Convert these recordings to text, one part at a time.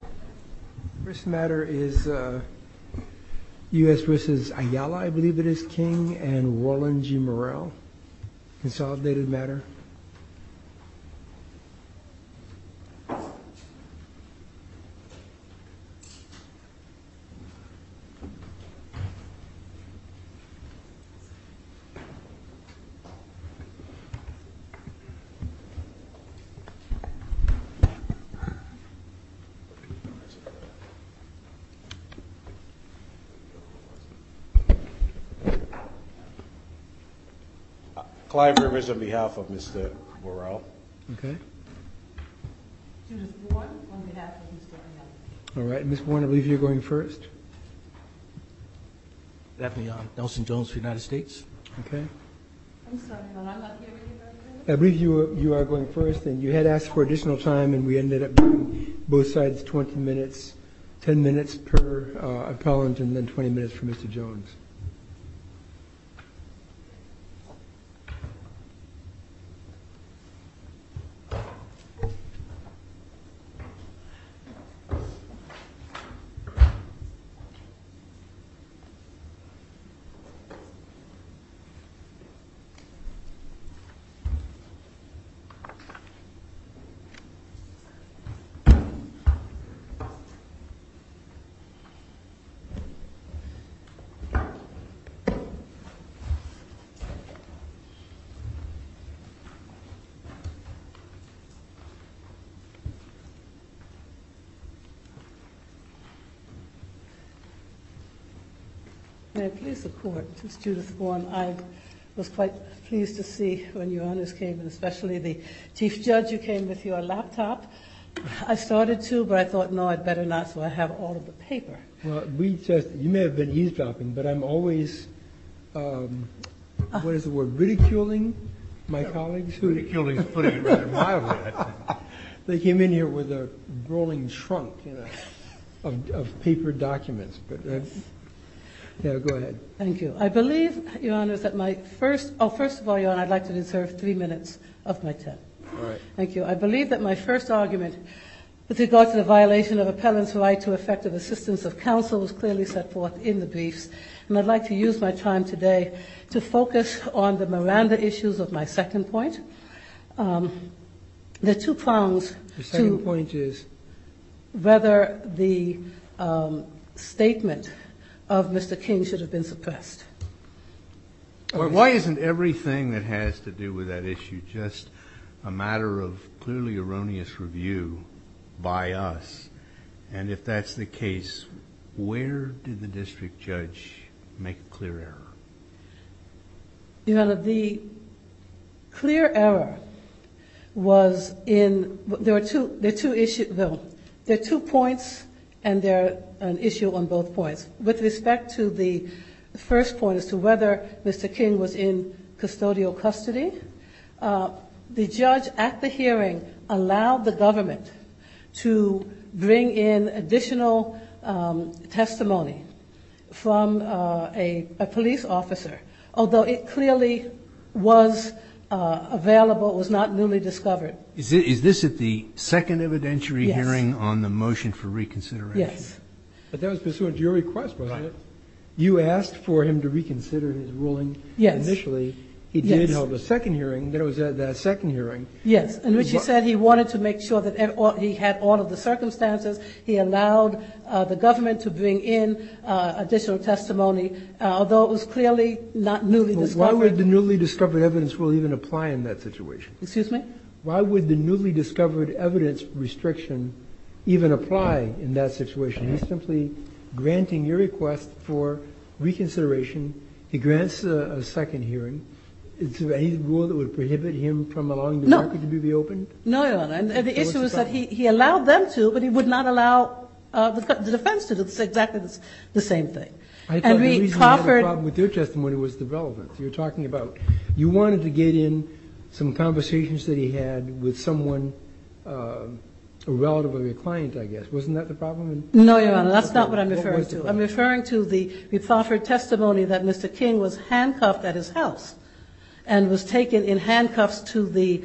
The first matter is U.S. v. Ayala, I believe it is King, and Warland G. Murrell. Consolidated matter. Clive Rivers on behalf of Mr. Murrell. Judith Bourne on behalf of Mr. Ayala. All right, Ms. Bourne, I believe you're going first. Daphne Nelson-Jones, United States. I'm sorry, but I'm not hearing you, President. I believe you are going first, and you had asked for additional time, and we ended up doing both sides 20 minutes, Judith Bourne, United States. May I please have the floor? Chief Judge, you came with your laptop. I started to, but I thought, no, I'd better not, so I have all of the paper. Well, you may have been eavesdropping, but I'm always, what is the word, ridiculing my colleagues? Ridiculing is putting it rather mildly, actually. They came in here with a rolling trunk of paper documents, but go ahead. Thank you. I believe, Your Honor, that my first, oh, first of all, Your Honor, I'd like to reserve three minutes of my time. All right. Thank you. I believe that my first argument with regard to the violation of appellant's right to effective assistance of counsel was clearly set forth in the briefs, and I'd like to use my time today to focus on the Miranda issues of my second point. The two prongs to whether the statement of Mr. King should have been suppressed. Why isn't everything that has to do with that issue just a matter of clearly erroneous review by us? And if that's the case, where did the district judge make a clear error? Your Honor, the clear error was in, there are two points, and they're an issue on both points. With respect to the first point as to whether Mr. King was in custodial custody, the judge at the hearing allowed the government to bring in additional testimony from a police officer, although it clearly was available, it was not newly discovered. Is this at the second evidentiary hearing on the motion for reconsideration? Yes. But that was pursuant to your request, wasn't it? Yes. He did hold a second hearing, that was at that second hearing. Yes, in which he said he wanted to make sure that he had all of the circumstances. He allowed the government to bring in additional testimony, although it was clearly not newly discovered. But why would the newly discovered evidence even apply in that situation? Excuse me? Why would the newly discovered evidence restriction even apply in that situation? He's simply granting your request for reconsideration. He grants a second hearing. Is there any rule that would prohibit him from allowing the market to be reopened? No, Your Honor. And the issue is that he allowed them to, but he would not allow the defense to do exactly the same thing. I thought the reason you had a problem with your testimony was the relevance. You're talking about you wanted to get in some conversations that he had with someone, a relative of your client, I guess. Wasn't that the problem? No, Your Honor. That's not what I'm referring to. I'm referring to the repoffered testimony that Mr. King was handcuffed at his house and was taken in handcuffs to the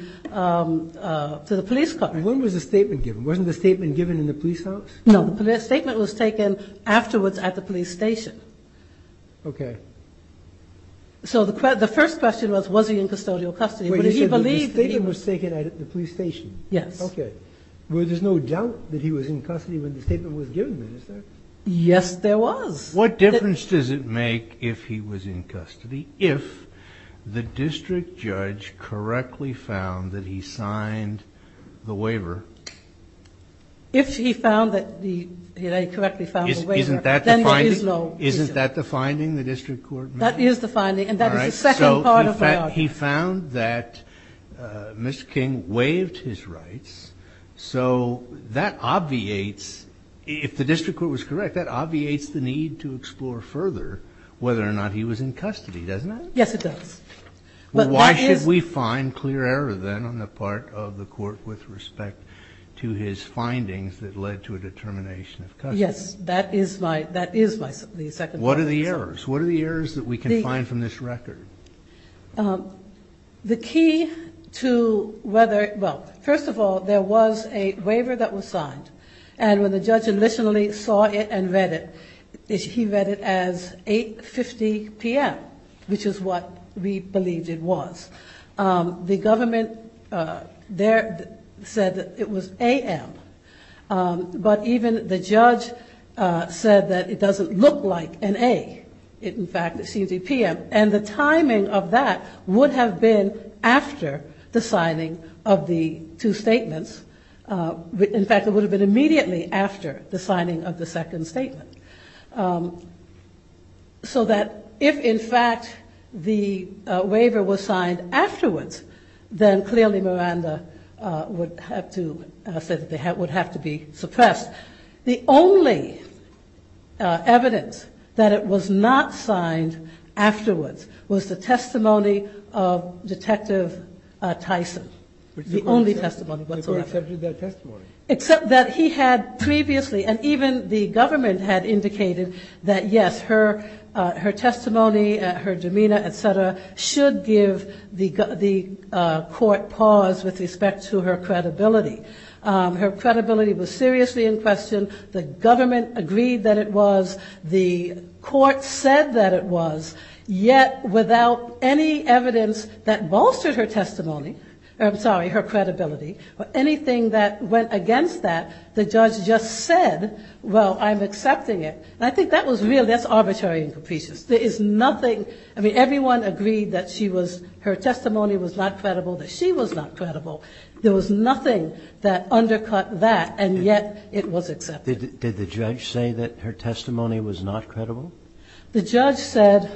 police car. When was the statement given? Wasn't the statement given in the police house? No. The statement was taken afterwards at the police station. Okay. So the first question was, was he in custodial custody? He said the statement was taken at the police station. Yes. Okay. But there's no doubt that he was in custody when the statement was given, is there? Yes, there was. What difference does it make if he was in custody if the district judge correctly found that he signed the waiver? If he found that he correctly found the waiver, then there is no issue. Isn't that the finding the district court made? That is the finding, and that is the second part of my argument. He found that Mr. King waived his rights, so that obviates, if the district court was correct, that obviates the need to explore further whether or not he was in custody, doesn't it? Yes, it does. Why should we find clear error then on the part of the court with respect to his findings that led to a determination of custody? Yes, that is my second point. What are the errors? What are the errors that we can find from this record? The key to whether, well, first of all, there was a waiver that was signed, and when the judge initially saw it and read it, he read it as 8.50 p.m., which is what we believed it was. The government there said that it was a.m., but even the judge said that it doesn't look like an a. In fact, it seems to be p.m., and the timing of that would have been after the signing of the two statements. In fact, it would have been immediately after the signing of the second statement, so that if, in fact, the waiver was signed afterwards, then clearly Miranda would have to say that it would have to be suppressed. The only evidence that it was not signed afterwards was the testimony of Detective Tyson, the only testimony whatsoever. Except that he had previously, and even the government had indicated that yes, her testimony, her demeanor, et cetera, should give the court pause with respect to her credibility. Her credibility was seriously in question. The government agreed that it was. The court said that it was. Yet, without any evidence that bolstered her testimony, I'm sorry, her credibility, or anything that went against that, the judge just said, well, I'm accepting it. And I think that was really, that's arbitrary and capricious. There is nothing, I mean, everyone agreed that she was, her testimony was not credible, that she was not credible. There was nothing that undercut that, and yet it was accepted. Did the judge say that her testimony was not credible? The judge said,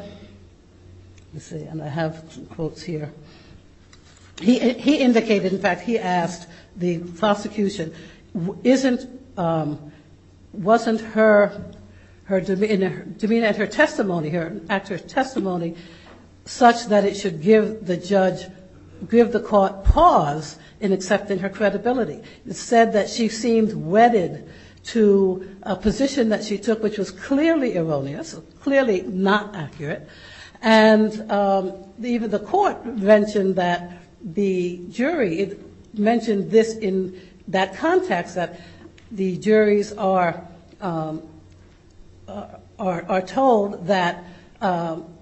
let's see, and I have some quotes here. He indicated, in fact, he asked the prosecution, isn't, wasn't her, her demeanor, I mean, and her testimony, her actor's testimony, such that it should give the judge, give the court pause in accepting her credibility. It said that she seemed wedded to a position that she took, which was clearly erroneous, clearly not accurate, and even the court mentioned that the jury, it mentioned this in that context that the juries are told that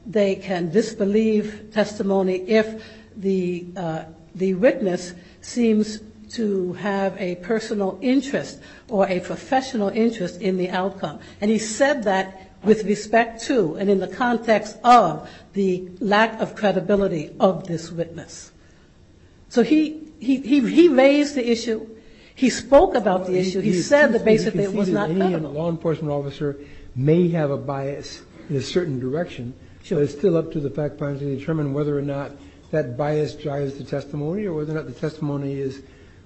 they can disbelieve testimony if the witness seems to have a personal interest or a professional interest in the outcome. And he said that with respect to and in the context of the lack of credibility of this witness. So he, he, he raised the issue. He spoke about the issue. He said that basically it was not credible. You can see that any law enforcement officer may have a bias in a certain direction, but it's still up to the fact finder to determine whether or not that bias drives the testimony or whether or not the testimony is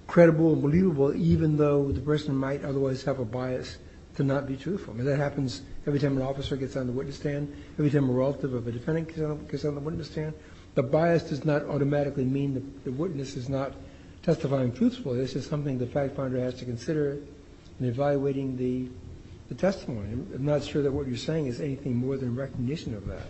credible and believable, even though the person might otherwise have a bias to not be truthful. And that happens every time an officer gets on the witness stand, every time a relative of a defendant gets on the witness stand. The bias does not automatically mean the witness is not testifying truthfully. This is something the fact finder has to consider in evaluating the testimony. I'm not sure that what you're saying is anything more than recognition of that.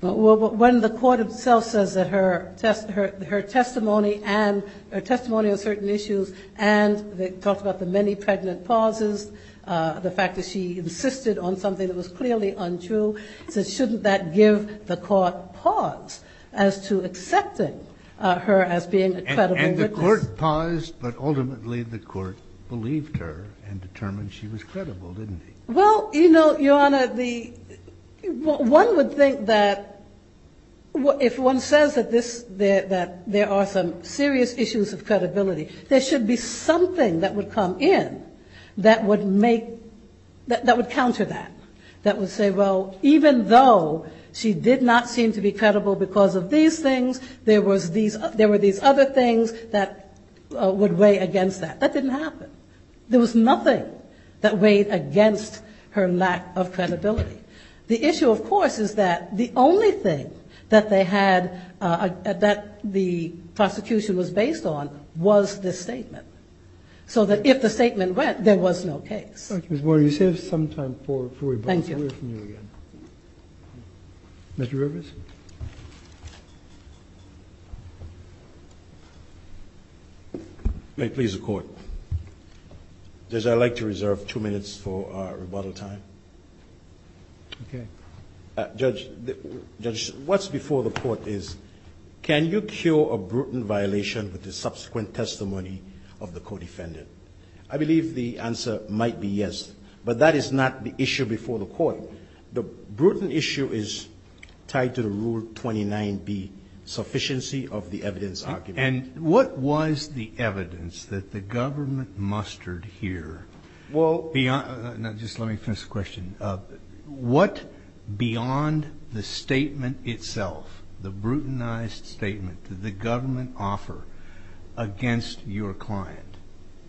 Well, when the court itself says that her testimony and her testimony on certain issues and they talked about the many pregnant pauses, the fact that she insisted on something that was clearly untrue, so shouldn't that give the court pause as to accepting her as being a credible witness? And the court paused, but ultimately the court believed her and determined she was credible, didn't he? Well, you know, Your Honor, the one would think that if one says that this, that there are some serious issues of credibility, there should be something that would come in that would make, that would counter that, that would say, well, even though she did not seem to be credible because of these things, there were these other things that would weigh against that. That didn't happen. There was nothing that weighed against her lack of credibility. The issue, of course, is that the only thing that they had, that the prosecution was based on was this statement, so that if the statement went, there was no case. Thank you, Ms. Boyer. You saved some time for rebuttal. Thank you. Let's hear from you again. Mr. Rivers? May it please the Court? Judge, I'd like to reserve two minutes for rebuttal time. Okay. Judge, what's before the Court is, can you cure a brutal violation with the subsequent testimony of the co-defendant? I believe the answer might be yes, but that is not the issue before the Court. The brutal issue is tied to the Rule 29B, sufficiency of the evidence argument. And what was the evidence that the government mustered here? Well beyond, just let me finish the question. What beyond the statement itself, the brutalized statement, did the government offer against your client?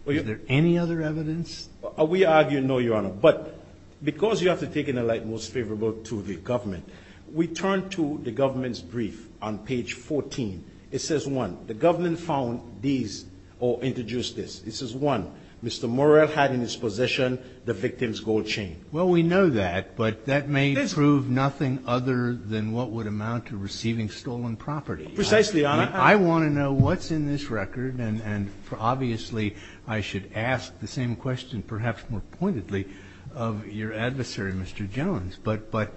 Is there any other evidence? We argue no, Your Honor. But because you have to take in the light most favorable to the government, we turn to the government's brief on page 14. It says 1, the government found these or introduced this. It says 1, Mr. Morrell had in his possession the victim's gold chain. Well, we know that, but that may prove nothing other than what would amount to receiving stolen property. Precisely, Your Honor. I want to know what's in this record, and obviously I should ask the same question perhaps more pointedly of your adversary, Mr. Jones. But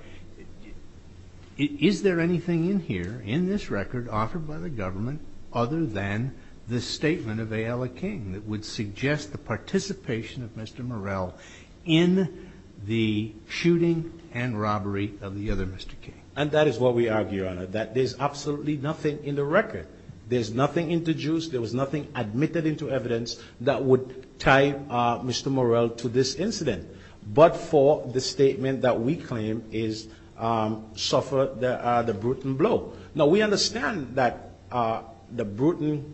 is there anything in here, in this record offered by the government, other than the statement of A.L. King that would suggest the participation of Mr. Morrell in the shooting and robbery of the other Mr. King? And that is what we argue, Your Honor, that there's absolutely nothing in the record. There's nothing introduced. There was nothing admitted into evidence that would tie Mr. Morrell to this incident, but for the statement that we claim is suffered the Bruton blow. Now, we understand that the Bruton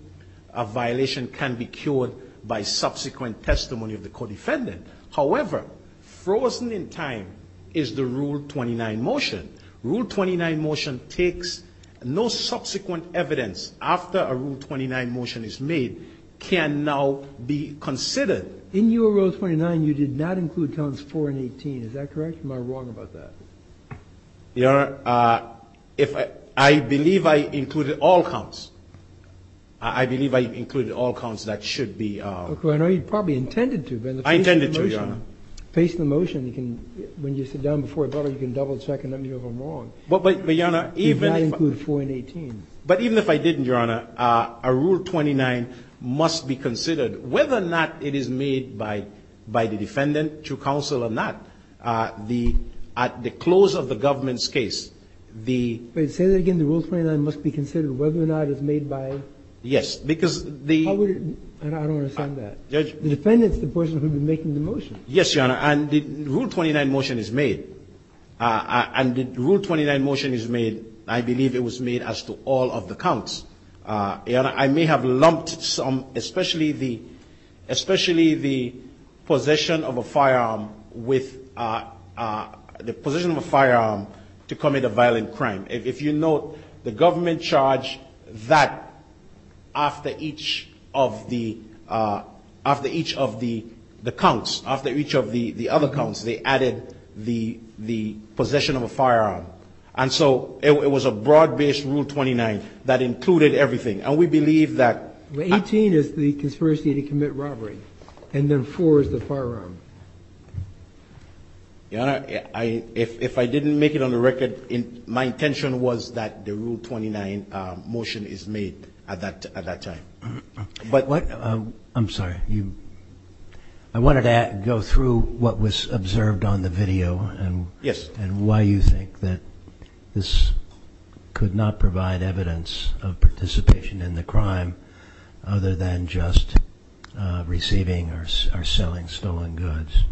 violation can be cured by subsequent testimony of the co-defendant. However, frozen in time is the Rule 29 motion. Rule 29 motion takes no subsequent evidence after a Rule 29 motion is made can now be considered. In your Rule 29, you did not include counts 4 and 18. Is that correct? Am I wrong about that? Your Honor, I believe I included all counts. I believe I included all counts that should be. I know you probably intended to. I intended to, Your Honor. If you face the motion, you can, when you sit down before a brother, you can double-check and let me know if I'm wrong. But, Your Honor, even if I. You did not include 4 and 18. But even if I didn't, Your Honor, a Rule 29 must be considered whether or not it is made by the defendant to counsel or not. At the close of the government's case, the. Say that again. The Rule 29 must be considered whether or not it is made by. Yes, because the. I don't understand that. Judge. The defendant is the person who would be making the motion. Yes, Your Honor. And the Rule 29 motion is made. And the Rule 29 motion is made. I believe it was made as to all of the counts. Your Honor, I may have lumped some, especially the. Especially the possession of a firearm with. The possession of a firearm to commit a violent crime. If you note, the government charged that after each of the. After each of the counts. After each of the other counts, they added the possession of a firearm. And so it was a broad-based Rule 29 that included everything. And we believe that. 18 is the conspiracy to commit robbery. And then 4 is the firearm. Your Honor, if I didn't make it on the record, my intention was that the Rule 29 motion is made at that time. But. I'm sorry. I wanted to go through what was observed on the video. Yes. And why you think that this could not provide evidence of participation in the crime. Other than just receiving or selling stolen goods.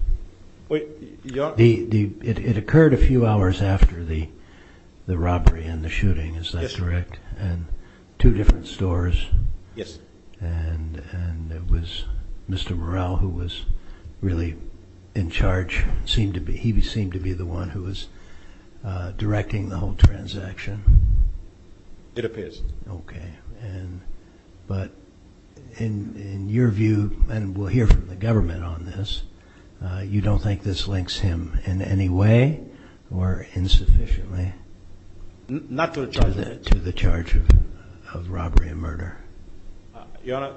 Wait. Your Honor. It occurred a few hours after the robbery and the shooting. Is that correct? Yes. And two different stores. Yes. And it was Mr. Morrell who was really in charge. He seemed to be the one who was directing the whole transaction. It appears. Okay. But in your view, and we'll hear from the government on this, you don't think this links him in any way or insufficiently? Not to the charge of it. To the charge of robbery and murder. Your Honor,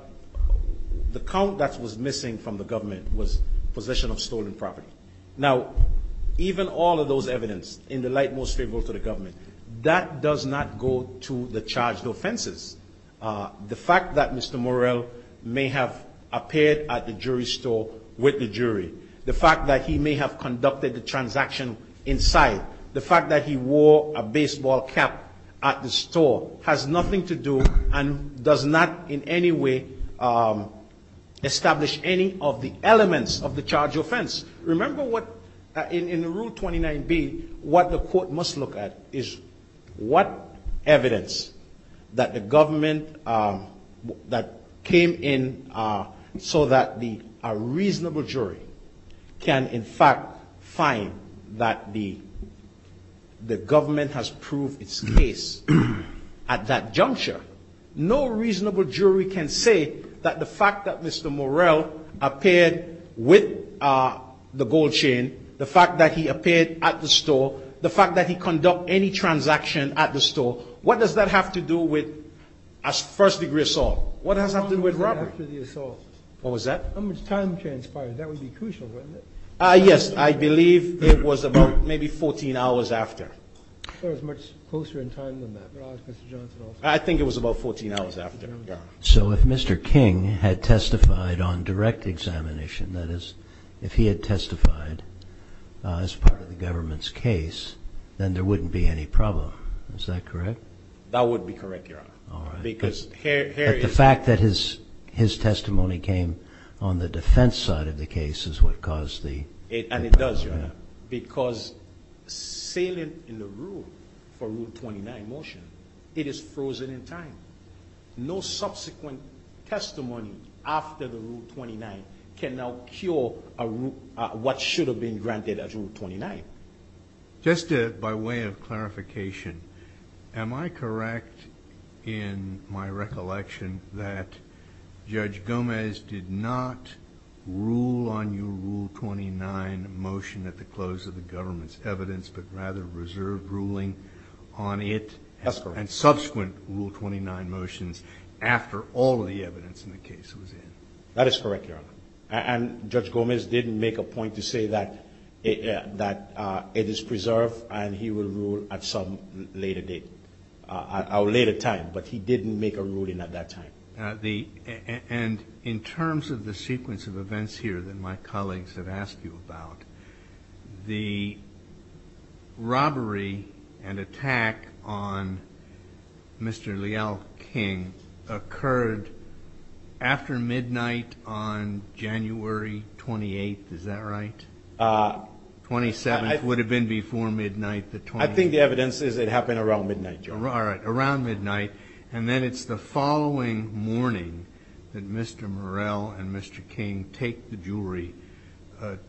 the count that was missing from the government was possession of stolen property. Now, even all of those evidence in the light most favorable to the government, that does not go to the charged offenses. The fact that Mr. Morrell may have appeared at the jewelry store with the jury, the fact that he may have conducted the transaction inside, the fact that he wore a baseball cap at the store has nothing to do and does not in any way establish any of the elements of the charged offense. Remember what, in Rule 29B, what the court must look at is what evidence that the government that came in so that a reasonable jury can in fact find that the government has proved its case at that juncture. No reasonable jury can say that the fact that Mr. Morrell appeared with the gold chain, the fact that he appeared at the store, the fact that he conducted any transaction at the store, what does that have to do with a first degree assault? What does that have to do with robbery? How long was that after the assault? What was that? How much time transpired? That would be crucial, wouldn't it? Yes. I believe it was about maybe 14 hours after. It was much closer in time than that. I think it was about 14 hours after. So if Mr. King had testified on direct examination, that is, if he had testified as part of the government's case, then there wouldn't be any problem. Is that correct? That would be correct, Your Honor. But the fact that his testimony came on the defense side of the case is what caused the problem. And it does, Your Honor, because sailing in the rule for Rule 29 motion, it is frozen in time. No subsequent testimony after the Rule 29 can now cure what should have been granted as Rule 29. Am I correct in my recollection that Judge Gomez did not rule on your Rule 29 motion at the close of the government's evidence, but rather reserved ruling on it and subsequent Rule 29 motions after all the evidence in the case was in? That is correct, Your Honor. And Judge Gomez didn't make a point to say that it is preserved and he will rule at some later date or later time. But he didn't make a ruling at that time. And in terms of the sequence of events here that my colleagues have asked you about, the robbery and attack on Mr. Leal King occurred after midnight on January 28th. Is that right? 27th would have been before midnight. I think the evidence is it happened around midnight, Your Honor. All right, around midnight. And then it's the following morning that Mr. Murrell and Mr. King take the jewelry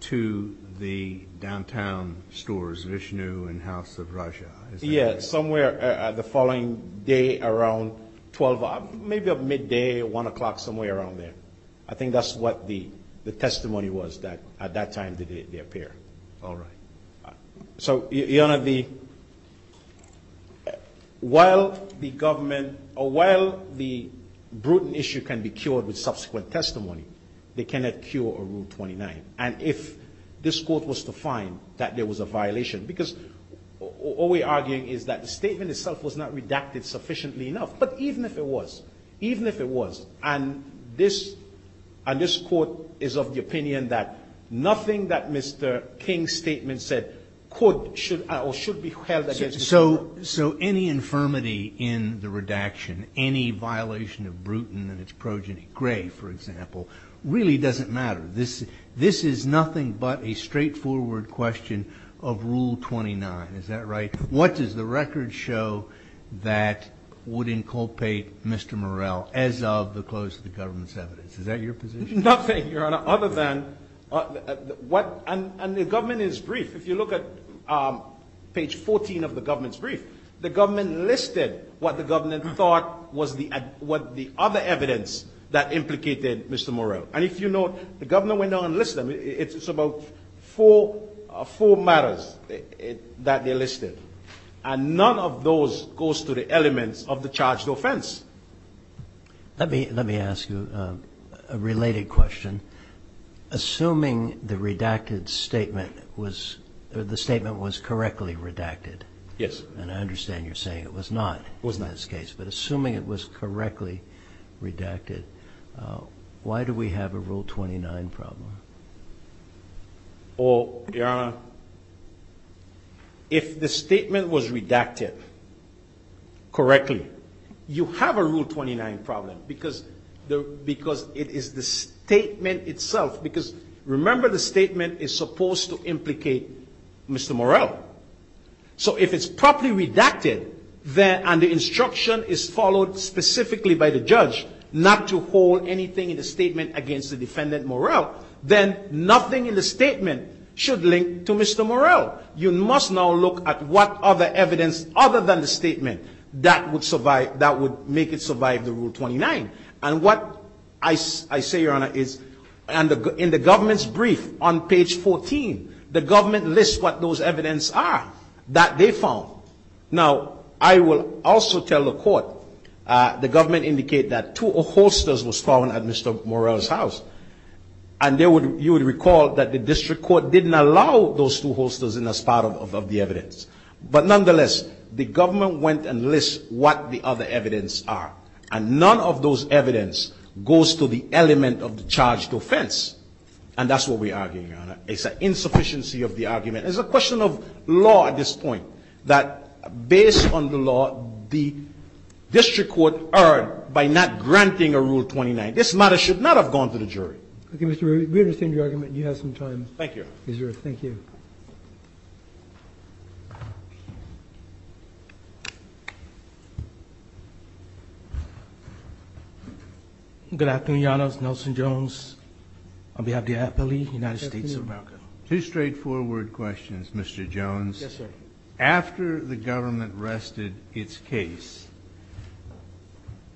to the downtown stores, Vishnu and House of Raja. Yes, somewhere the following day around 12, maybe midday, 1 o'clock, somewhere around there. I think that's what the testimony was that at that time did they appear. All right. So, Your Honor, while the government or while the brutal issue can be cured with subsequent testimony, they cannot cure a Rule 29. And if this court was to find that there was a violation, because all we're arguing is that the statement itself was not redacted sufficiently enough. But even if it was, even if it was, and this court is of the opinion that nothing that Mr. King's statement said could or should be held against the court. So any infirmity in the redaction, any violation of Bruton and its progeny, Gray, for example, really doesn't matter. This is nothing but a straightforward question of Rule 29. Is that right? What does the record show that would inculpate Mr. Morell as of the close of the government's evidence? Is that your position? Nothing, Your Honor, other than what, and the government is brief. If you look at page 14 of the government's brief, the government listed what the government thought was the other evidence that implicated Mr. Morell. And if you note, the governor went on and listed them. It's about four matters that they listed. And none of those goes to the elements of the charged offense. Let me ask you a related question. Assuming the redacted statement was, the statement was correctly redacted. Yes. And I understand you're saying it was not in this case. It was not. Correctly redacted. Why do we have a Rule 29 problem? Your Honor, if the statement was redacted correctly, you have a Rule 29 problem because it is the statement itself. Because remember, the statement is supposed to implicate Mr. Morell. So if it's properly redacted, and the instruction is followed specifically by the judge not to hold anything in the statement against the defendant Morell, then nothing in the statement should link to Mr. Morell. You must now look at what other evidence other than the statement that would make it survive the Rule 29. And what I say, Your Honor, is in the government's brief on page 14, the government lists what those evidence are that they found. Now, I will also tell the court, the government indicated that two holsters were found at Mr. Morell's house. And you would recall that the district court didn't allow those two holsters in as part of the evidence. But nonetheless, the government went and lists what the other evidence are. And none of those evidence goes to the element of the charge to offense. And that's what we are arguing, Your Honor. It's an insufficiency of the argument. It's a question of law at this point, that based on the law, the district court erred by not granting a Rule 29. This matter should not have gone to the jury. Roberts. We understand your argument. You have some time. Thank you. Thank you. Thank you. Good afternoon, Your Honors. Nelson Jones on behalf of the appellee, United States of America. Two straightforward questions, Mr. Jones. Yes, sir. After the government rested its case,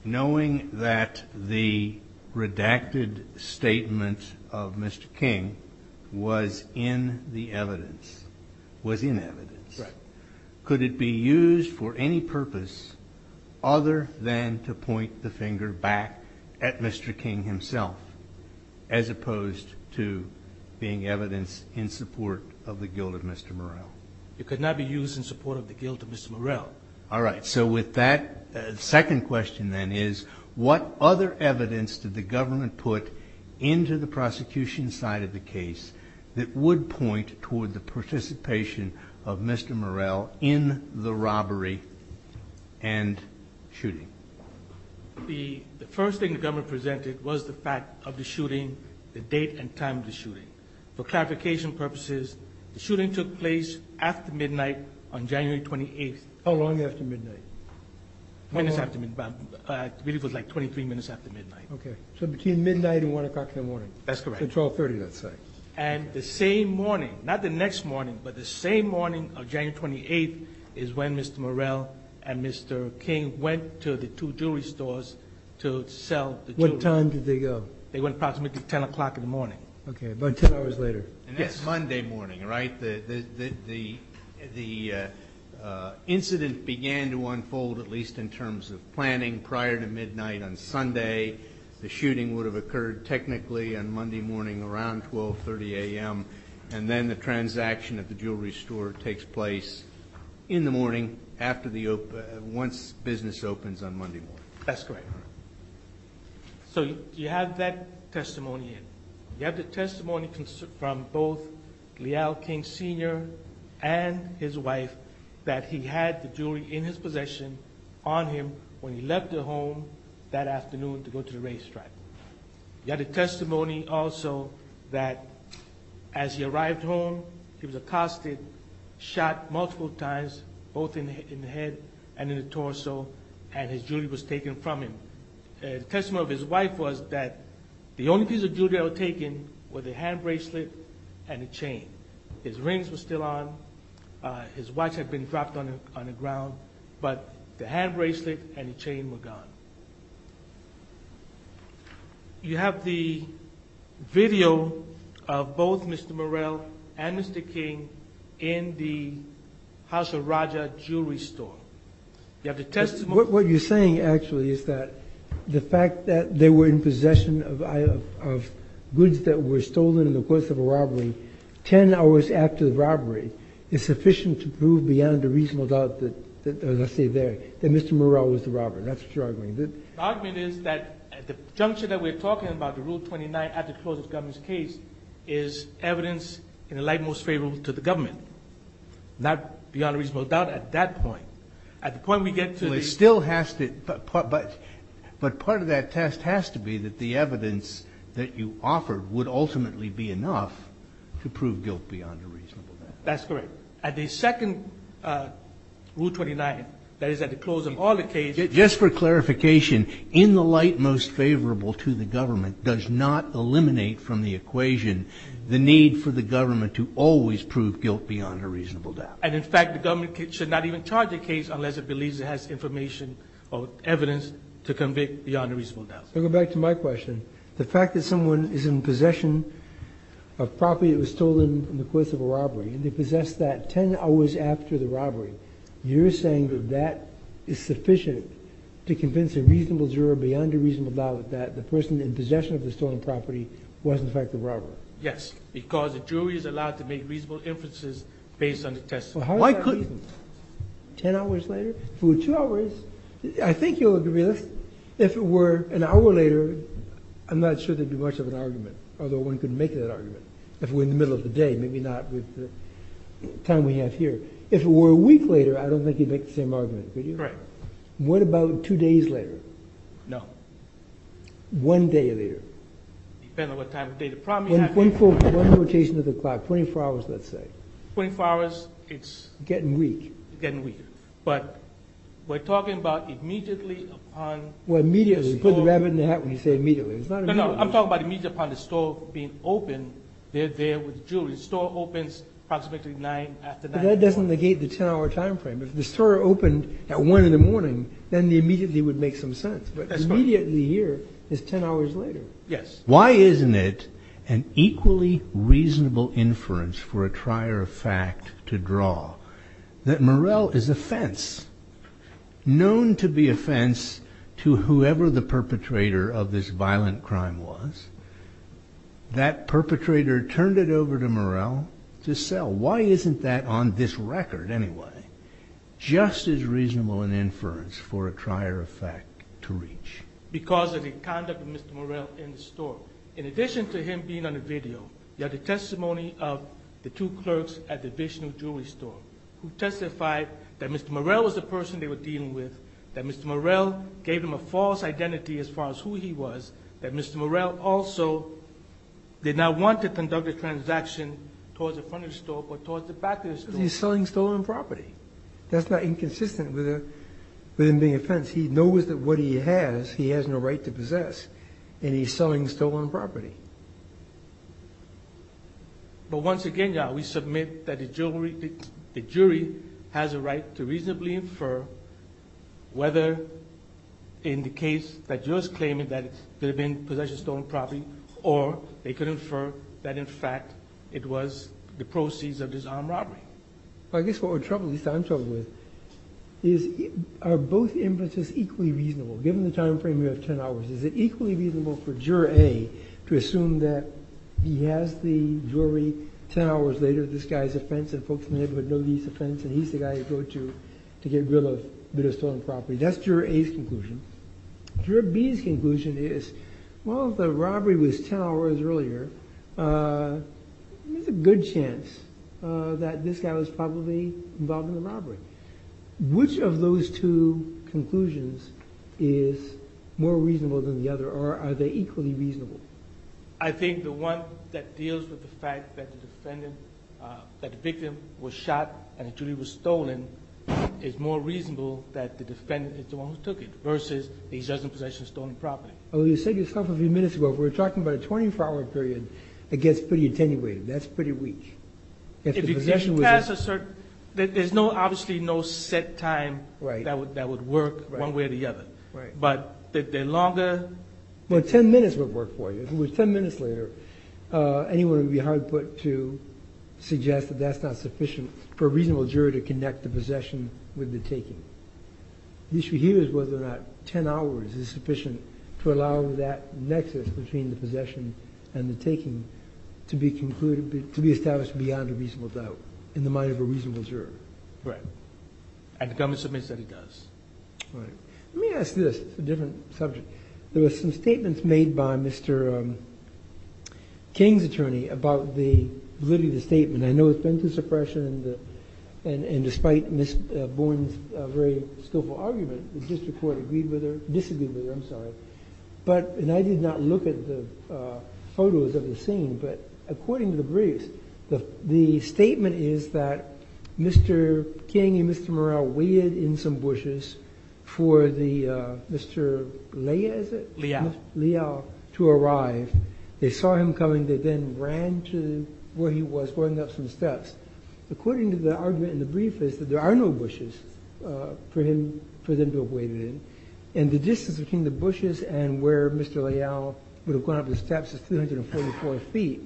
knowing that the redacted statement of Mr. King was in the evidence, was in evidence, could it be used for any purpose other than to point the finger back at Mr. King himself, as opposed to being evidence in support of the guilt of Mr. Morell? It could not be used in support of the guilt of Mr. Morell. All right. So with that, the second question then is, what other evidence did the government put into the prosecution side of the case that would point toward the participation of Mr. Morell in the robbery and shooting? The first thing the government presented was the fact of the shooting, the date and time of the shooting. For clarification purposes, the shooting took place after midnight on January 28th. How long after midnight? I believe it was like 23 minutes after midnight. Okay. So between midnight and 1 o'clock in the morning. That's correct. So 1230, let's say. And the same morning, not the next morning, but the same morning of January 28th, is when Mr. Morell and Mr. King went to the two jewelry stores to sell the jewelry. What time did they go? They went approximately 10 o'clock in the morning. Okay. About 10 hours later. And that's Monday morning, right? The incident began to unfold, at least in terms of planning, prior to midnight on Sunday. The shooting would have occurred technically on Monday morning around 1230 a.m., and then the transaction at the jewelry store takes place in the morning once business opens on Monday morning. That's correct. So you have that testimony in. You have the testimony from both Leal King Sr. and his wife that he had the jewelry in his possession on him when he left the home that afternoon to go to the racetrack. You have the testimony also that as he arrived home, he was accosted, shot multiple times, both in the head and in the torso, and his jewelry was taken from him. The testimony of his wife was that the only piece of jewelry that was taken were the hand bracelet and the chain. His rings were still on. His watch had been dropped on the ground. But the hand bracelet and the chain were gone. You have the video of both Mr. Morell and Mr. King in the House of Raja jewelry store. You have the testimony. What you're saying actually is that the fact that they were in possession of goods that were stolen in the course of a robbery 10 hours after the robbery is sufficient to prove beyond a reasonable doubt that, as I say there, that Mr. Morell was the robber. That's what you're arguing. The argument is that the juncture that we're talking about, the Rule 29 at the close of the government's case, is evidence in the light most favorable to the government, not beyond reasonable doubt at that point. At the point we get to the... But part of that test has to be that the evidence that you offer would ultimately be enough to prove guilt beyond a reasonable doubt. That's correct. At the second Rule 29, that is at the close of all the cases... Just for clarification, in the light most favorable to the government does not eliminate from the equation the need for the government to always prove guilt beyond a reasonable doubt. And, in fact, the government should not even charge a case unless it believes it has information or evidence to convict beyond a reasonable doubt. Going back to my question, the fact that someone is in possession of property that was stolen in the course of a robbery and they possessed that 10 hours after the robbery, you're saying that that is sufficient to convince a reasonable juror beyond a reasonable doubt that the person in possession of the stolen property was, in fact, the robber. Yes, because the jury is allowed to make reasonable inferences based on the test. Well, how is that reasonable? 10 hours later? If it were two hours, I think you'll agree with this. If it were an hour later, I'm not sure there'd be much of an argument, although one could make that argument. If it were in the middle of the day, maybe not with the time we have here. If it were a week later, I don't think you'd make the same argument, could you? Right. What about two days later? No. One day later? Depends on what time of day the problem is. One rotation of the clock, 24 hours, let's say. 24 hours, it's getting weak. It's getting weak. But we're talking about immediately upon the store. Well, immediately. You put the rabbit in the hat when you say immediately. No, no. I'm talking about immediately upon the store being open, they're there with the jury. The store opens approximately 9 after 9. But that doesn't negate the 10-hour time frame. If the store opened at 1 in the morning, then the immediately would make some sense. That's right. But immediately here is 10 hours later. Yes. Why isn't it an equally reasonable inference for a trier of fact to draw that Murrell is a fence? Known to be a fence to whoever the perpetrator of this violent crime was, that perpetrator turned it over to Murrell to sell. Why isn't that on this record, anyway, just as reasonable an inference for a trier of fact to reach? Because of the conduct of Mr. Murrell in the store. In addition to him being on the video, you have the testimony of the two clerks at the Vishnu Jewelry Store, who testified that Mr. Murrell was the person they were dealing with, that Mr. Murrell gave him a false identity as far as who he was, that Mr. Murrell also did not want to conduct a transaction towards the front of the store, but towards the back of the store. Because he's selling stolen property. That's not inconsistent with him being a fence. He knows that what he has, he has no right to possess, and he's selling stolen property. But once again, we submit that the jury has a right to reasonably infer whether in the case that jurors claim that it could have been possession of stolen property, or they could infer that, in fact, it was the proceeds of disarmed robbery. I guess what we're troubled with, at least I'm troubled with, is are both inferences equally reasonable? Given the time frame, we have 10 hours. Is it equally reasonable for Juror A to assume that he has the jury 10 hours later, this guy's a fence, and folks in the neighborhood know he's a fence, and he's the guy to go to to get rid of a bit of stolen property. That's Juror A's conclusion. Juror B's conclusion is, well, if the robbery was 10 hours earlier, there's a good chance that this guy was probably involved in the robbery. Which of those two conclusions is more reasonable than the other, or are they equally reasonable? I think the one that deals with the fact that the victim was shot and the jury was stolen is more reasonable that the defendant is the one who took it versus he's judging possession of stolen property. Well, you said yourself a few minutes ago, if we're talking about a 24-hour period, it gets pretty attenuated. That's pretty weak. If the possession was a certain – there's obviously no set time that would work one way or the other. Right. But the longer – Well, 10 minutes would work for you. If it was 10 minutes later, anyone would be hard put to suggest that that's not sufficient for a reasonable juror to connect the possession with the taking. The issue here is whether or not 10 hours is sufficient to allow that nexus between the possession and the taking to be established beyond a reasonable doubt in the mind of a reasonable juror. Right. And the government submits that it does. Right. Let me ask this. It's a different subject. There were some statements made by Mr. King's attorney about the validity of the statement. I know it's been through suppression, and despite Ms. Bourne's very skillful argument, the district court agreed with her – disagreed with her, I'm sorry. But – and I did not look at the photos of the scene, but according to the briefs, the statement is that Mr. King and Mr. Morrell waited in some bushes for the – Mr. Leal, is it? Leal. Mr. Leal to arrive. They saw him coming. They then ran to where he was, going up some steps. According to the argument in the brief is that there are no bushes for him – for them to have waited in. And the distance between the bushes and where Mr. Leal would have gone up the steps is 344 feet,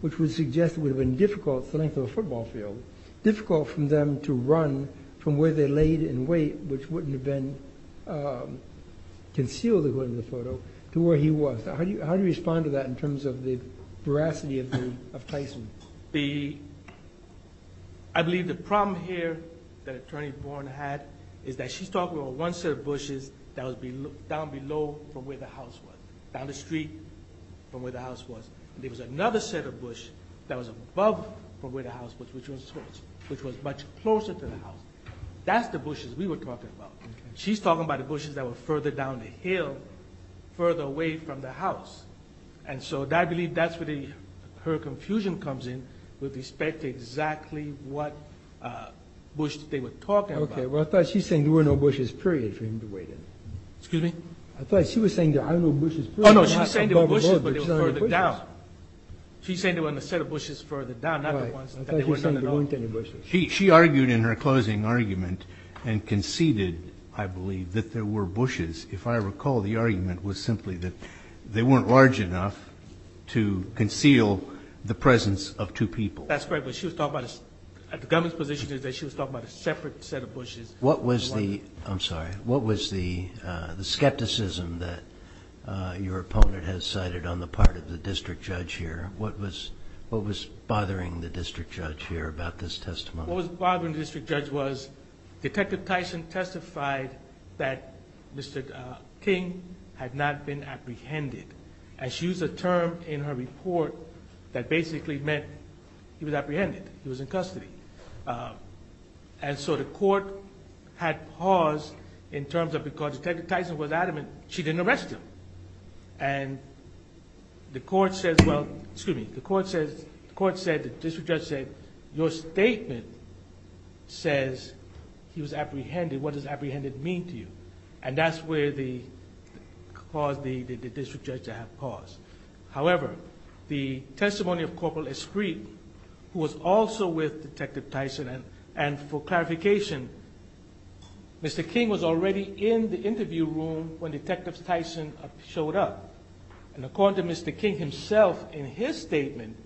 which would suggest it would have been difficult – it's the length of a football field – difficult for them to run from where they laid in wait, which wouldn't have been concealed according to the photo, to where he was. How do you respond to that in terms of the veracity of Tyson? The – I believe the problem here that Attorney Bourne had is that she's talking about one set of bushes that was down below from where the house was, down the street from where the house was, and there was another set of bush that was above from where the house was, which was much closer to the house. That's the bushes we were talking about. She's talking about the bushes that were further down the hill, further away from the house. And so I believe that's where the – her confusion comes in with respect to exactly what bush they were talking about. Right. Well, I thought she was saying there were no bushes, period, for him to wait in. Excuse me? I thought she was saying there are no bushes – Oh, no. She was saying there were bushes, but they were further down. She's saying there were a set of bushes further down, not the ones – Right. I thought she was saying there weren't any bushes. She argued in her closing argument and conceded, I believe, that there were bushes. If I recall, the argument was simply that they weren't large enough to conceal the presence of two people. That's correct. But she was talking about – the government's position is that she was talking about a separate set of bushes – What was the – I'm sorry. What was the skepticism that your opponent has cited on the part of the district judge here? What was bothering the district judge here about this testimony? What was bothering the district judge was Detective Tyson testified that Mr. King had not been apprehended. And she used a term in her report that basically meant he was apprehended. He was in custody. And so the court had paused in terms of because Detective Tyson was adamant she didn't arrest him. And the court says – well, excuse me. The court says – the court said, the district judge said, your statement says he was apprehended. What does apprehended mean to you? And that's where the – caused the district judge to have paused. However, the testimony of Corporal Esprit, who was also with Detective Tyson, and for clarification, Mr. King was already in the interview room when Detective Tyson showed up. And according to Mr. King himself in his statement,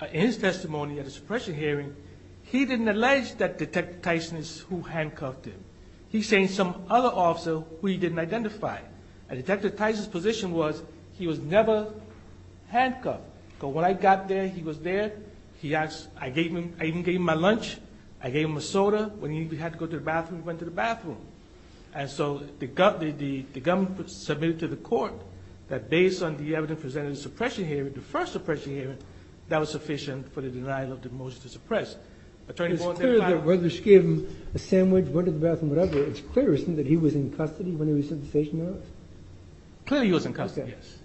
in his testimony at a suppression hearing, he didn't allege that Detective Tyson is who handcuffed him. He's saying some other officer who he didn't identify. And Detective Tyson's position was he was never handcuffed. So when I got there, he was there. He asked – I gave him – I even gave him my lunch. I gave him a soda. When he had to go to the bathroom, he went to the bathroom. And so the government submitted to the court that based on the evidence presented in the suppression hearing, the first suppression hearing, that was sufficient for the denial of the motion to suppress. It's clear that whether she gave him a sandwich, went to the bathroom, whatever, it's clear, that he was in custody when he received the station notice? Clearly he was in custody, yes.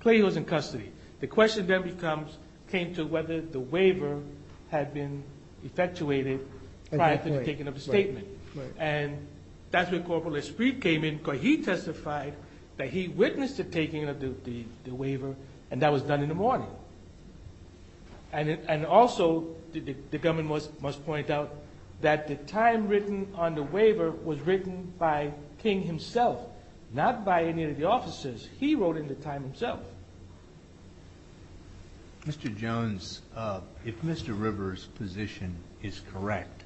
Clearly he was in custody. The question then becomes – came to whether the waiver had been effectuated prior to the taking of the statement. And that's when Corporal Esprit came in, because he testified that he witnessed the taking of the waiver, and that was done in the morning. And also, the government must point out that the time written on the waiver was written by King himself, not by any of the officers. He wrote in the time himself. Mr. Jones, if Mr. Rivers' position is correct,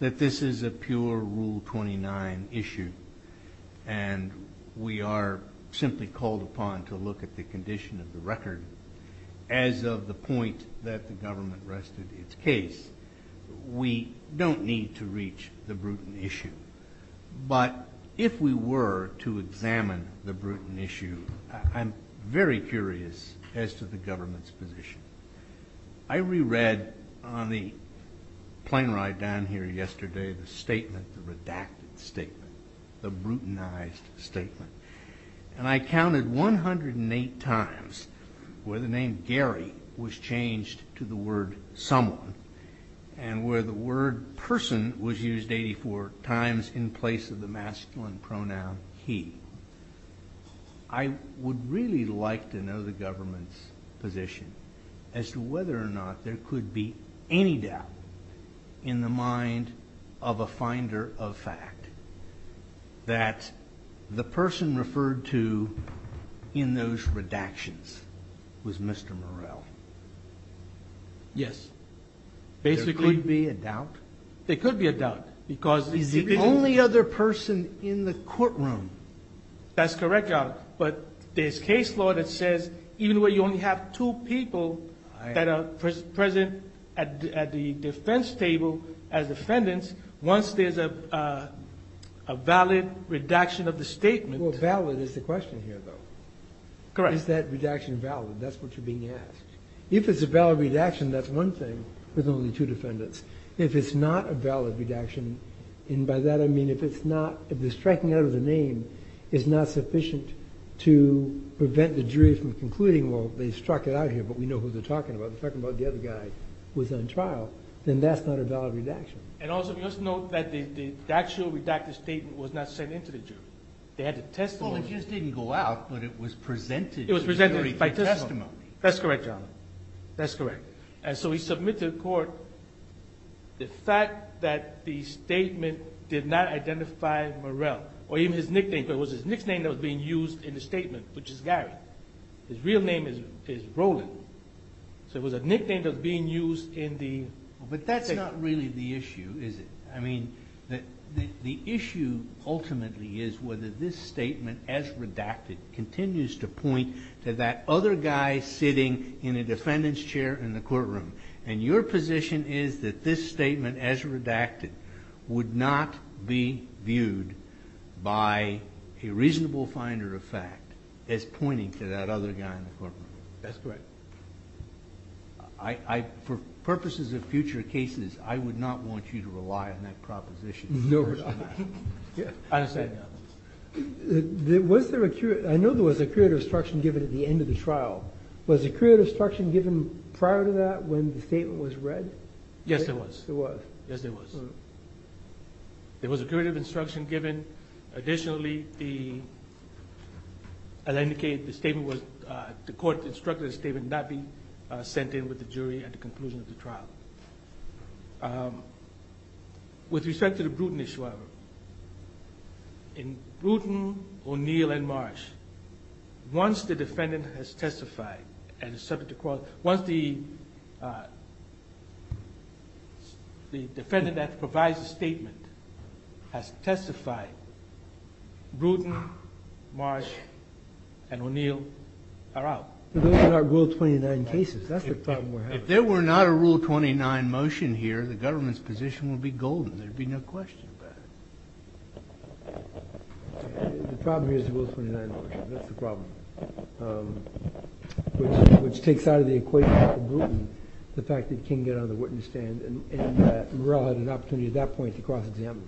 that this is a pure Rule 29 issue, and we are simply called upon to look at the condition of the record, as of the point that the government rested its case, we don't need to reach the Bruton issue. But if we were to examine the Bruton issue, I'm very curious as to the government's position. I reread on the plane ride down here yesterday the statement, the redacted statement, the And I counted 108 times where the name Gary was changed to the word someone, and where the word person was used 84 times in place of the masculine pronoun he. I would really like to know the government's position as to whether or not there could be any doubt in the mind of a finder of fact that the person referred to in those redactions was Mr. Morrell. Yes. There could be a doubt. There could be a doubt, because he's the only other person in the courtroom. That's correct, Your Honor. But there's case law that says even where you only have two people that are present at the defense table as defendants, once there's a valid redaction of the statement. Well, valid is the question here, though. Correct. Is that redaction valid? That's what you're being asked. If it's a valid redaction, that's one thing with only two defendants. If it's not a valid redaction, and by that I mean if it's not, if the striking out of the name is not sufficient to prevent the jury from concluding, well, they struck it out here, but we know who they're talking about. They're talking about the other guy who was on trial. Then that's not a valid redaction. And also, let's note that the actual redacted statement was not sent into the jury. They had the testimony. Well, it just didn't go out, but it was presented to the jury by testimony. It was presented by testimony. That's correct, Your Honor. That's correct. And so we submit to the court the fact that the statement did not identify Morrell, or even his nickname, because it was his nickname that was being used in the statement, which is Gary. His real name is Roland. So it was a nickname that was being used in the... But that's not really the issue, is it? I mean, the issue ultimately is whether this statement, as redacted, continues to point to that other guy sitting in a defendant's chair in the courtroom. And your position is that this statement, as redacted, would not be viewed by a reasonable finder of fact as pointing to that other guy in the courtroom. That's correct. For purposes of future cases, I would not want you to rely on that proposition. No, Your Honor. I understand, Your Honor. I know there was accrued obstruction given at the end of the trial. Was accrued obstruction given prior to that when the statement was read? Yes, there was. There was. Yes, there was. There was accrued obstruction given. Additionally, as I indicated, the court instructed the statement not be sent in with the jury at the conclusion of the trial. With respect to the Bruton issue, however, in Bruton, O'Neill, and Marsh, once the defendant has testified and is subject to court, once the defendant that provides the statement has testified, Bruton, Marsh, and O'Neill are out. Those are not Rule 29 cases. That's the problem we're having. If there were not a Rule 29 motion here, the government's position would be golden. There would be no question about it. The problem here is the Rule 29 motion. That's the problem, which takes out of the equation at the Bruton the fact that King got on the witness stand and that Murrell had an opportunity at that point to cross-examine.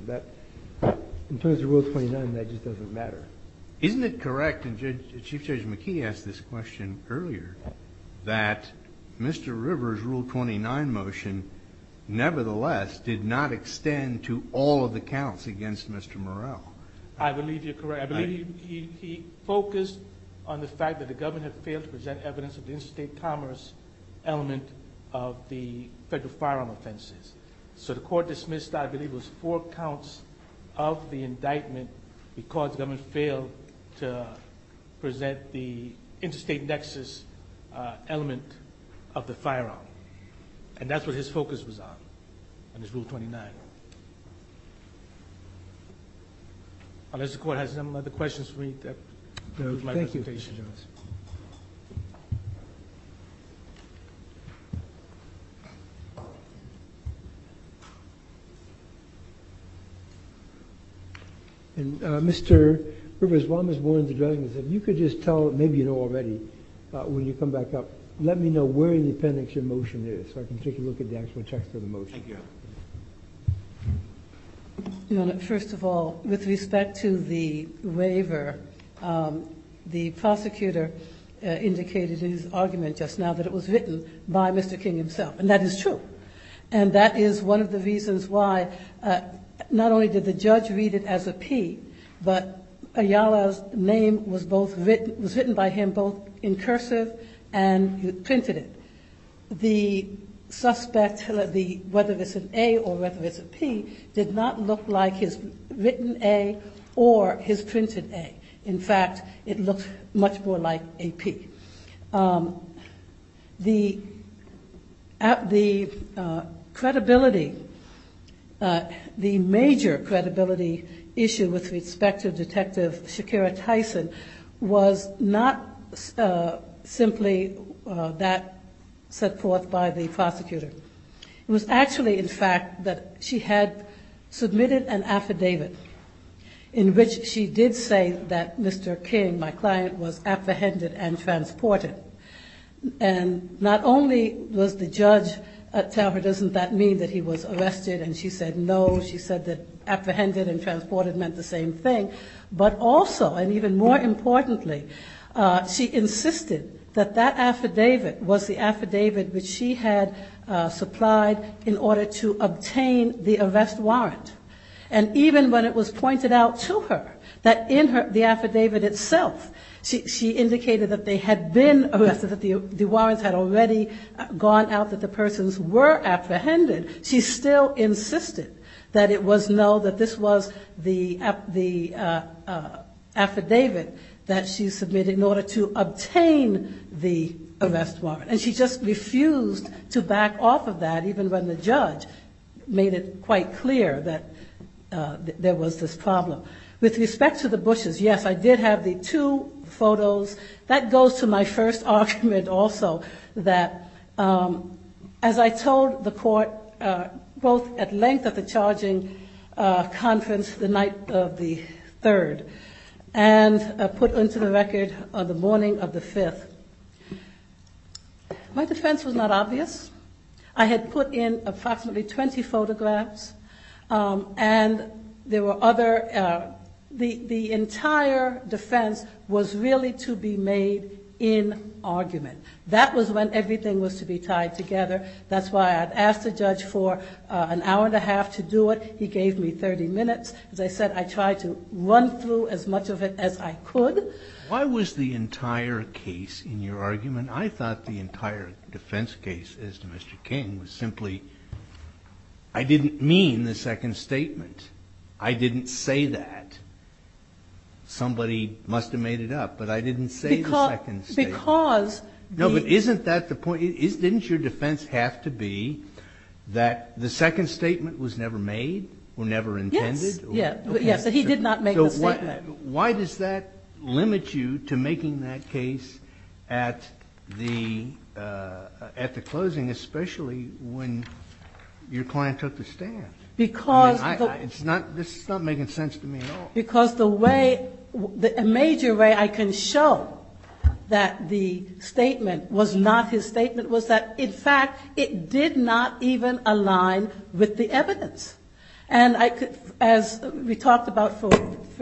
In terms of Rule 29, that just doesn't matter. Isn't it correct, and Chief Judge McKee asked this question earlier, that Mr. Rivers' Rule 29 motion nevertheless did not extend to all of the counts against Mr. Murrell? I believe you're correct. He focused on the fact that the government had failed to present evidence of the interstate commerce element of the federal firearm offenses. The court dismissed, I believe, was four counts of the indictment because the government failed to present the interstate nexus element of the firearm. That's what his focus was on in his Rule 29. Unless the court has some other questions for me, that concludes my presentation. Thank you, Mr. Jones. Mr. Rivers, while Ms. Warren is addressing this, if you could just tell, maybe you know already when you come back up, let me know where in the appendix your motion is so I can take a look at the actual text of the motion. Thank you. Your Honor, first of all, with respect to the waiver, the prosecutor indicated in his argument just now that it was written by Mr. King himself, and that is true. And that is one of the reasons why not only did the judge read it as a P, but Ayala's name was written by him both in cursive and he printed it. The suspect, whether it's an A or whether it's a P, did not look like his written A or his printed A. In fact, it looked much more like a P. The credibility, the major credibility issue with respect to Detective Shakira Tyson was not simply that set forth by the prosecutor. It was actually, in fact, that she had submitted an affidavit in which she did say that Mr. King, my client, was apprehended and transported. And not only does the judge tell her, doesn't that mean that he was arrested, and she said no, she said that apprehended and transported meant the same thing, but also, and even more importantly, she insisted that that affidavit was the affidavit which she had supplied in order to obtain the arrest warrant. And even when it was pointed out to her that in the affidavit itself, she indicated that they had been arrested, that the warrants had already gone out, that the persons were apprehended, she still insisted that it was no, that this was the affidavit that she submitted in order to obtain the arrest warrant. And she just refused to back off of that, even when the judge made it quite clear that there was this problem. With respect to the Bushes, yes, I did have the two photos. That goes to my first argument also, that as I told the court, both at length at the charging conference the night of the 3rd, and put onto the record the morning of the 5th, my defense was not obvious. I had put in approximately 20 photographs, and there were other, the entire defense was really to be made in argument. That was when everything was to be tied together. That's why I asked the judge for an hour and a half to do it, he gave me 30 minutes. As I said, I tried to run through as much of it as I could. Why was the entire case in your argument? I thought the entire defense case, as to Mr. King, was simply, I didn't mean the second statement. I didn't say that. Somebody must have made it up, but I didn't say the second statement. Didn't your defense have to be that the second statement was never made, or never intended? Yes, but he did not make the statement. Why does that limit you to making that case at the closing, especially when your client took the stand? This is not making sense to me at all. The major way I can show that the statement was not his statement was that, in fact, it did not even align with the evidence. As we talked about, for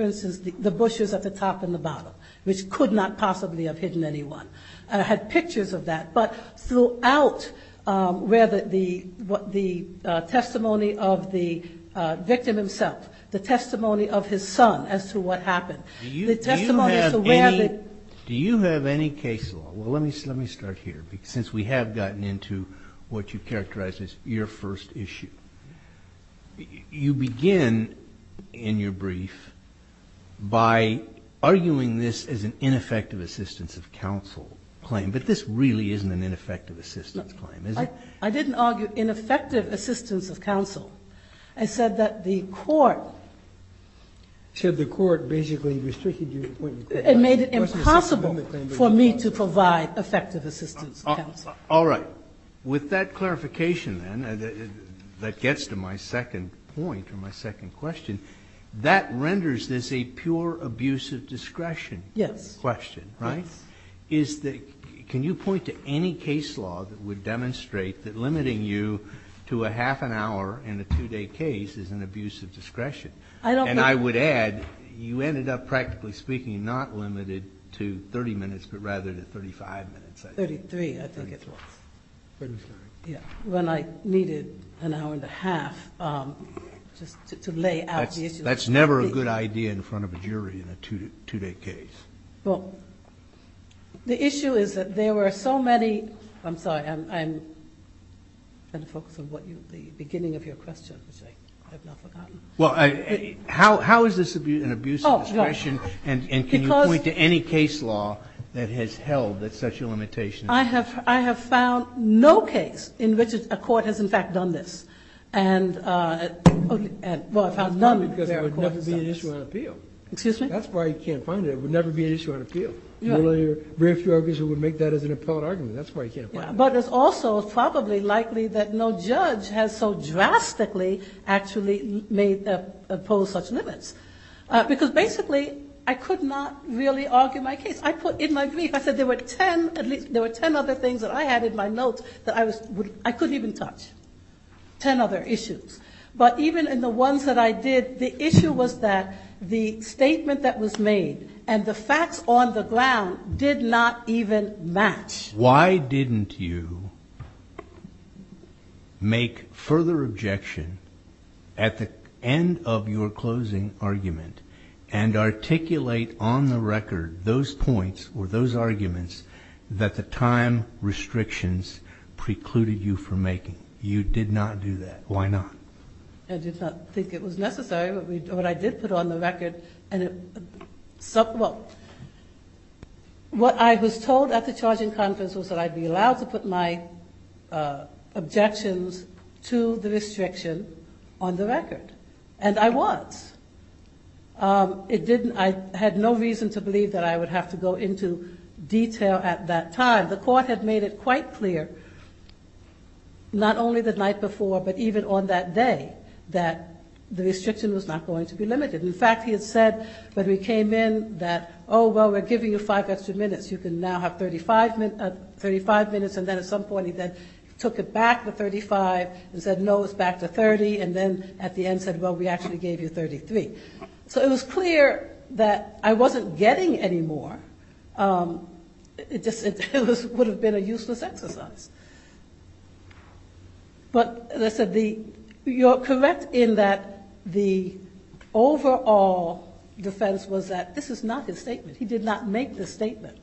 instance, the bushes at the top and the bottom, which could not possibly have hidden anyone. I had pictures of that, but throughout the testimony of the victim himself, the testimony of his son as to what happened. Do you have any case law? Well, let me start here, since we have gotten into what you characterize as your first issue. You begin in your brief by arguing this as an ineffective assistance of counsel claim, but this really isn't an ineffective assistance claim, is it? I didn't argue ineffective assistance of counsel. I said that the court... You said the court basically restricted you... It made it impossible for me to provide effective assistance of counsel. All right. With that clarification, then, that gets to my second point or my second question, that renders this a pure abuse of discretion question, right? Can you point to any case law that would demonstrate that limiting you to a half an hour in a two-day case is an abuse of discretion? And I would add, you ended up, practically speaking, not limited to 30 minutes, but rather to 35 minutes, I think. 33, I think it was. 33. When I needed an hour and a half just to lay out the issue. That's never a good idea in front of a jury in a two-day case. The issue is that there were so many... I'm sorry. I'm trying to focus on the beginning of your question, which I have now forgotten. Well, how is this an abuse of discretion, and can you point to any case law that has held that such a limitation exists? I have found no case in which a court has, in fact, done this. Well, I found none because it would never be an issue on appeal. That's why you can't find it. It would never be an issue on appeal. Very few arguers would make that as an appellate argument. But it's also probably likely that no judge has so drastically actually made... opposed such limits. Because basically, I could not really argue my case. I put in my brief, I said there were ten other things that I had in my notes that I couldn't even touch. Ten other issues. But even in the ones that I did, the issue was that the statement that was made and the facts on the ground did not even match. Why didn't you make further objection at the end of your closing argument and articulate on the record those points or those arguments that the time restrictions precluded you from making? You did not do that. Why not? I did not think it was necessary, but I did put on the record... What I was told at the charging conference was that I'd be allowed to put my objections to the restriction on the record. And I was. I had no reason to believe that I would have to go into detail at that time. The court had made it quite clear, not only the night before, but even on that day, that the restriction was not going to be limited. In fact, he had said when we came in that, oh, well, we're giving you five extra minutes. You can now have 35 minutes. And then at some point he then took it back to 35 and said, no, it's back to 30. And then at the end said, well, we actually gave you 33. So it was clear that I wasn't getting any more. It just would have been a useless exercise. But as I said, you're correct in that the overall defense was that this is not his statement. He did not make the statement.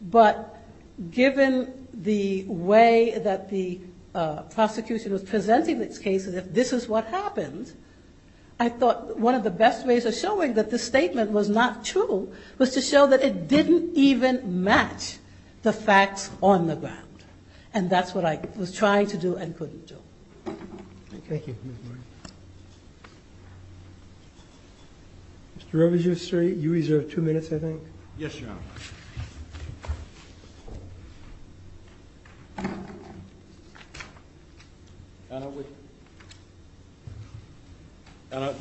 But given the way that the prosecution was presenting these cases, if this is what happened, I thought one of the best ways of showing that this statement was not true was to show that it didn't even match the facts on the ground. And that's what I was trying to do and couldn't do. Thank you. Mr. Rojas, you reserve two minutes, I think. Yes, Your Honor. Your Honor,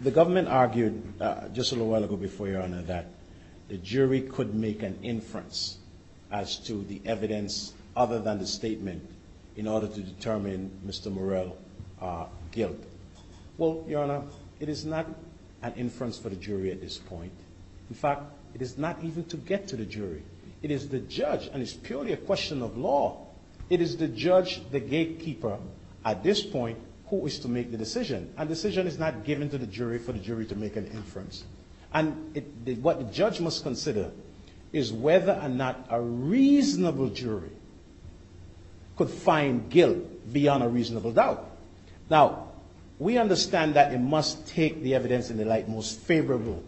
the government argued just a little while ago before, Your Honor, that the jury could make an inference as to the evidence other than the statement in order to determine Mr. Morell's guilt. Well, Your Honor, it is not an inference for the jury at this point. In fact, it is not even to get to the jury. It is the judge, and it's purely a question of law. It is the judge, the gatekeeper at this point, who is to make the decision. A decision is not given to the jury for the jury to make an inference. And what the judge must consider is whether or not a reasonable jury could find guilt beyond a reasonable doubt. Now, we understand that it must take the evidence in the light most favorable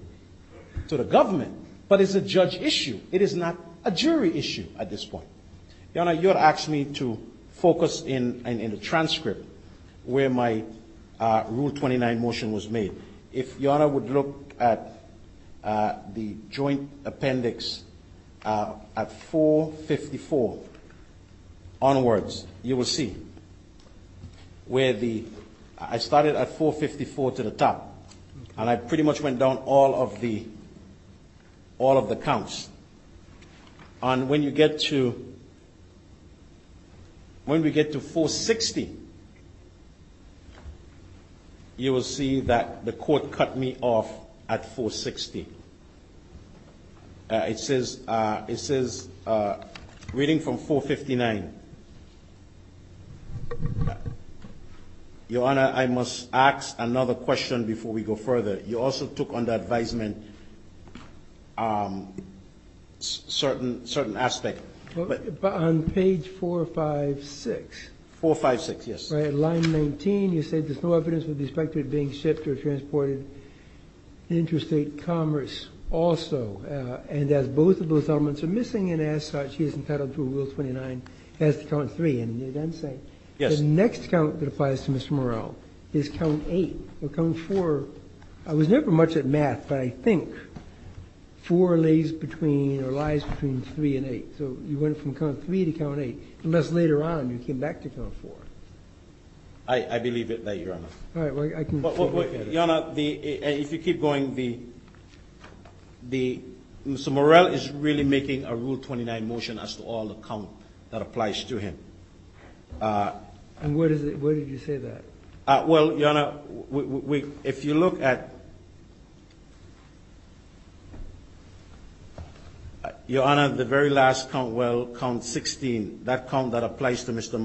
to the government. But it's a judge issue. It is not a jury issue at this point. Your Honor, you would ask me to focus in the transcript where my Rule 29 motion was made. If Your Honor would look at the joint appendix at 454 onwards, you will see where the, I started at 454 to the top, and I pretty much went down all of the counts. And when you get to, when we get to 460, you will see that the court cut me off at 460. It says reading from 459. Your Honor, I must ask another question before we go further. You also took under advisement certain aspect. But on page 456. 456, yes. Line 19, you say there's no evidence with respect to it being shipped or transported interstate commerce also. And as both of those elements are missing, and as such, he is entitled to a Rule 29 as to count 3. And you then say the next count that applies to Mr. Morell is count 8. Or count 4. I was never much at math, but I think 4 lays between or lies between 3 and 8. So you went from count 3 to count 8, unless later on you came back to count 4. I believe it, Your Honor. All right. Your Honor, if you keep going, Mr. Morell is really making a Rule 29 motion as to all the count that applies to him. And where did you say that? Well, Your Honor, if you look at Your Honor, the very last count, well, count 16, that count that applies to Mr.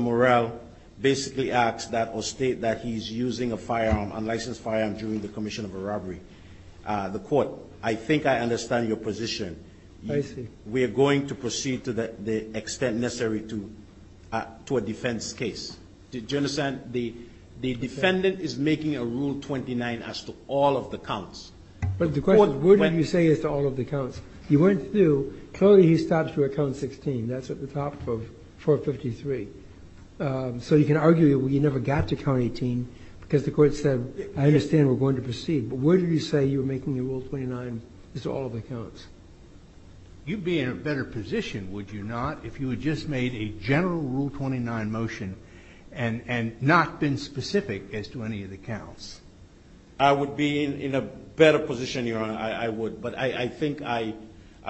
Morell basically asks that or state that he's using a firearm, unlicensed firearm, during the commission of a robbery. The Court, I think I understand your position. I see. We are going to proceed to the extent necessary to a defense case. Do you understand? The defendant is making a Rule 29 as to all of the counts. But the question is, where did you say as to all of the counts? You went through. Clearly, he stops at count 16. That's at the top of 453. So you can argue you never got to count 18 because the Court said, I understand we're going to proceed. But where did you say you were making a Rule 29 as to all of the counts? You'd be in a better position, would you not, if you had just made a general Rule 29 motion and not been specific as to any of the counts? I would be in a better position, Your Honor. I would. But I think I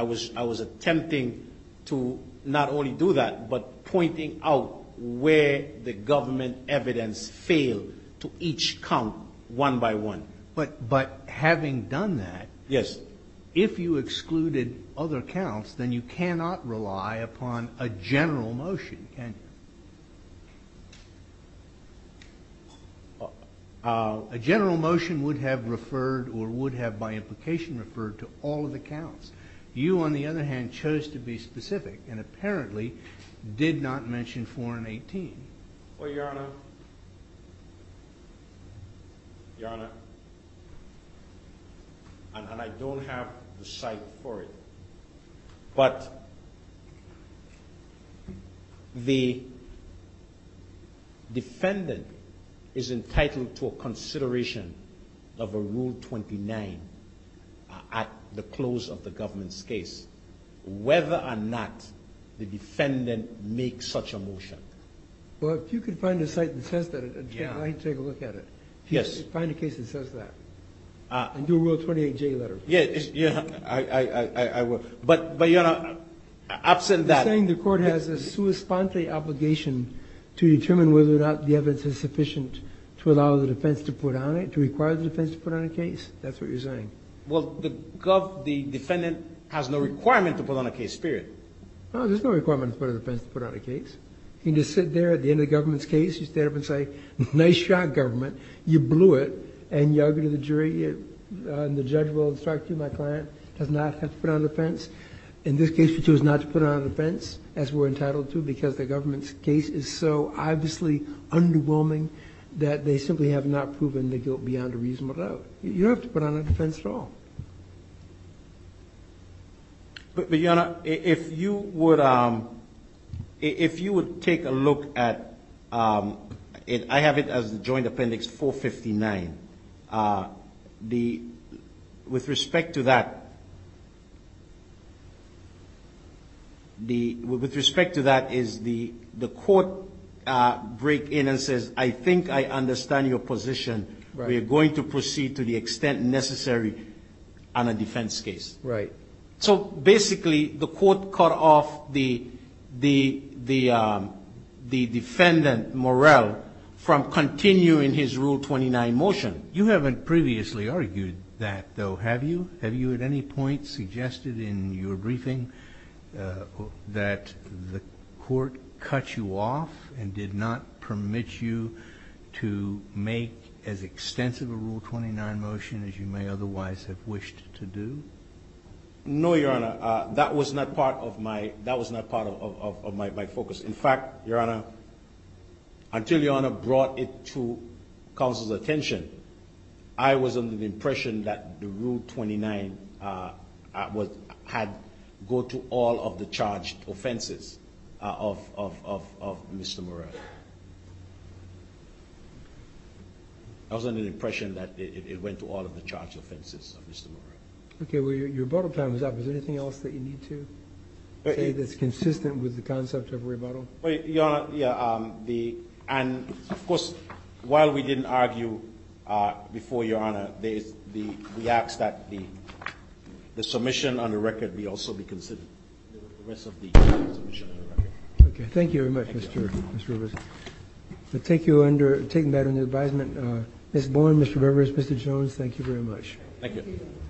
was attempting to not only do that but pointing out where the government evidence failed to each count one by one. But having done that, if you excluded other counts, then you cannot rely upon a general motion, can you? A general motion would have referred or would have, by implication, referred to all of the counts. You, on the other hand, chose to be specific and apparently did not mention 4 and 18. Well, Your Honor, Your Honor, and I don't have the cite for it. But the defendant is entitled to a consideration of a Rule 29 at the close of the government's case whether or not the defendant makes such a motion. Well, if you could find a cite that says that, I'd like to take a look at it. Yes. Find a case that says that and do a Rule 28J letter. Yes. I will. But, Your Honor, absent that... You're saying the court has a sua sponte obligation to determine whether or not the evidence is sufficient to allow the defense to put on it, to require the defense to put on a case? That's what you're saying? Well, the defendant has no requirement to put on a case, period. No, there's no requirement for the defense to put on a case. You can just sit there at the end of the government's case. You stand up and say, nice shot, government. You blew it and you argue to the jury and the judge will instruct you, my client, does not have to put on a defense. In this case, you choose not to put on a defense, as we're entitled to, because the government's case is so obviously underwhelming that they simply have not proven the guilt beyond a reasonable doubt. You don't have to put on a defense at all. But, Your Honor, if you would take a look at... I have it as the joint appendix 459. With respect to that, the court break in and says, I think I understand your position. We are going to proceed to the extent necessary on a defense case. Right. So, basically, the court cut off the defendant, Morel, from continuing his Rule 29 motion. You haven't previously argued that, though, have you? Have you at any point suggested in your briefing that the court cut you off and did not permit you to make as extensive a Rule 29 motion as you may otherwise have wished to do? No, Your Honor. That was not part of my focus. In fact, Your Honor, until Your Honor brought it to counsel's attention, I was under the impression that the Rule 29 had to go to all of the charged offenses of Mr. Morel. I was under the impression that it went to all of the charged offenses of Mr. Morel. Your rebuttal time is up. Is there anything else that you need to say that's consistent with the concept of rebuttal? Your Honor, of course, while we didn't argue before Your Honor, we ask that the submission on the record also be considered. Thank you very much, Mr. Rivers. Taking that under advisement, Ms. Bourne, Mr. Rivers, Mr. Jones, thank you very much. Thank you.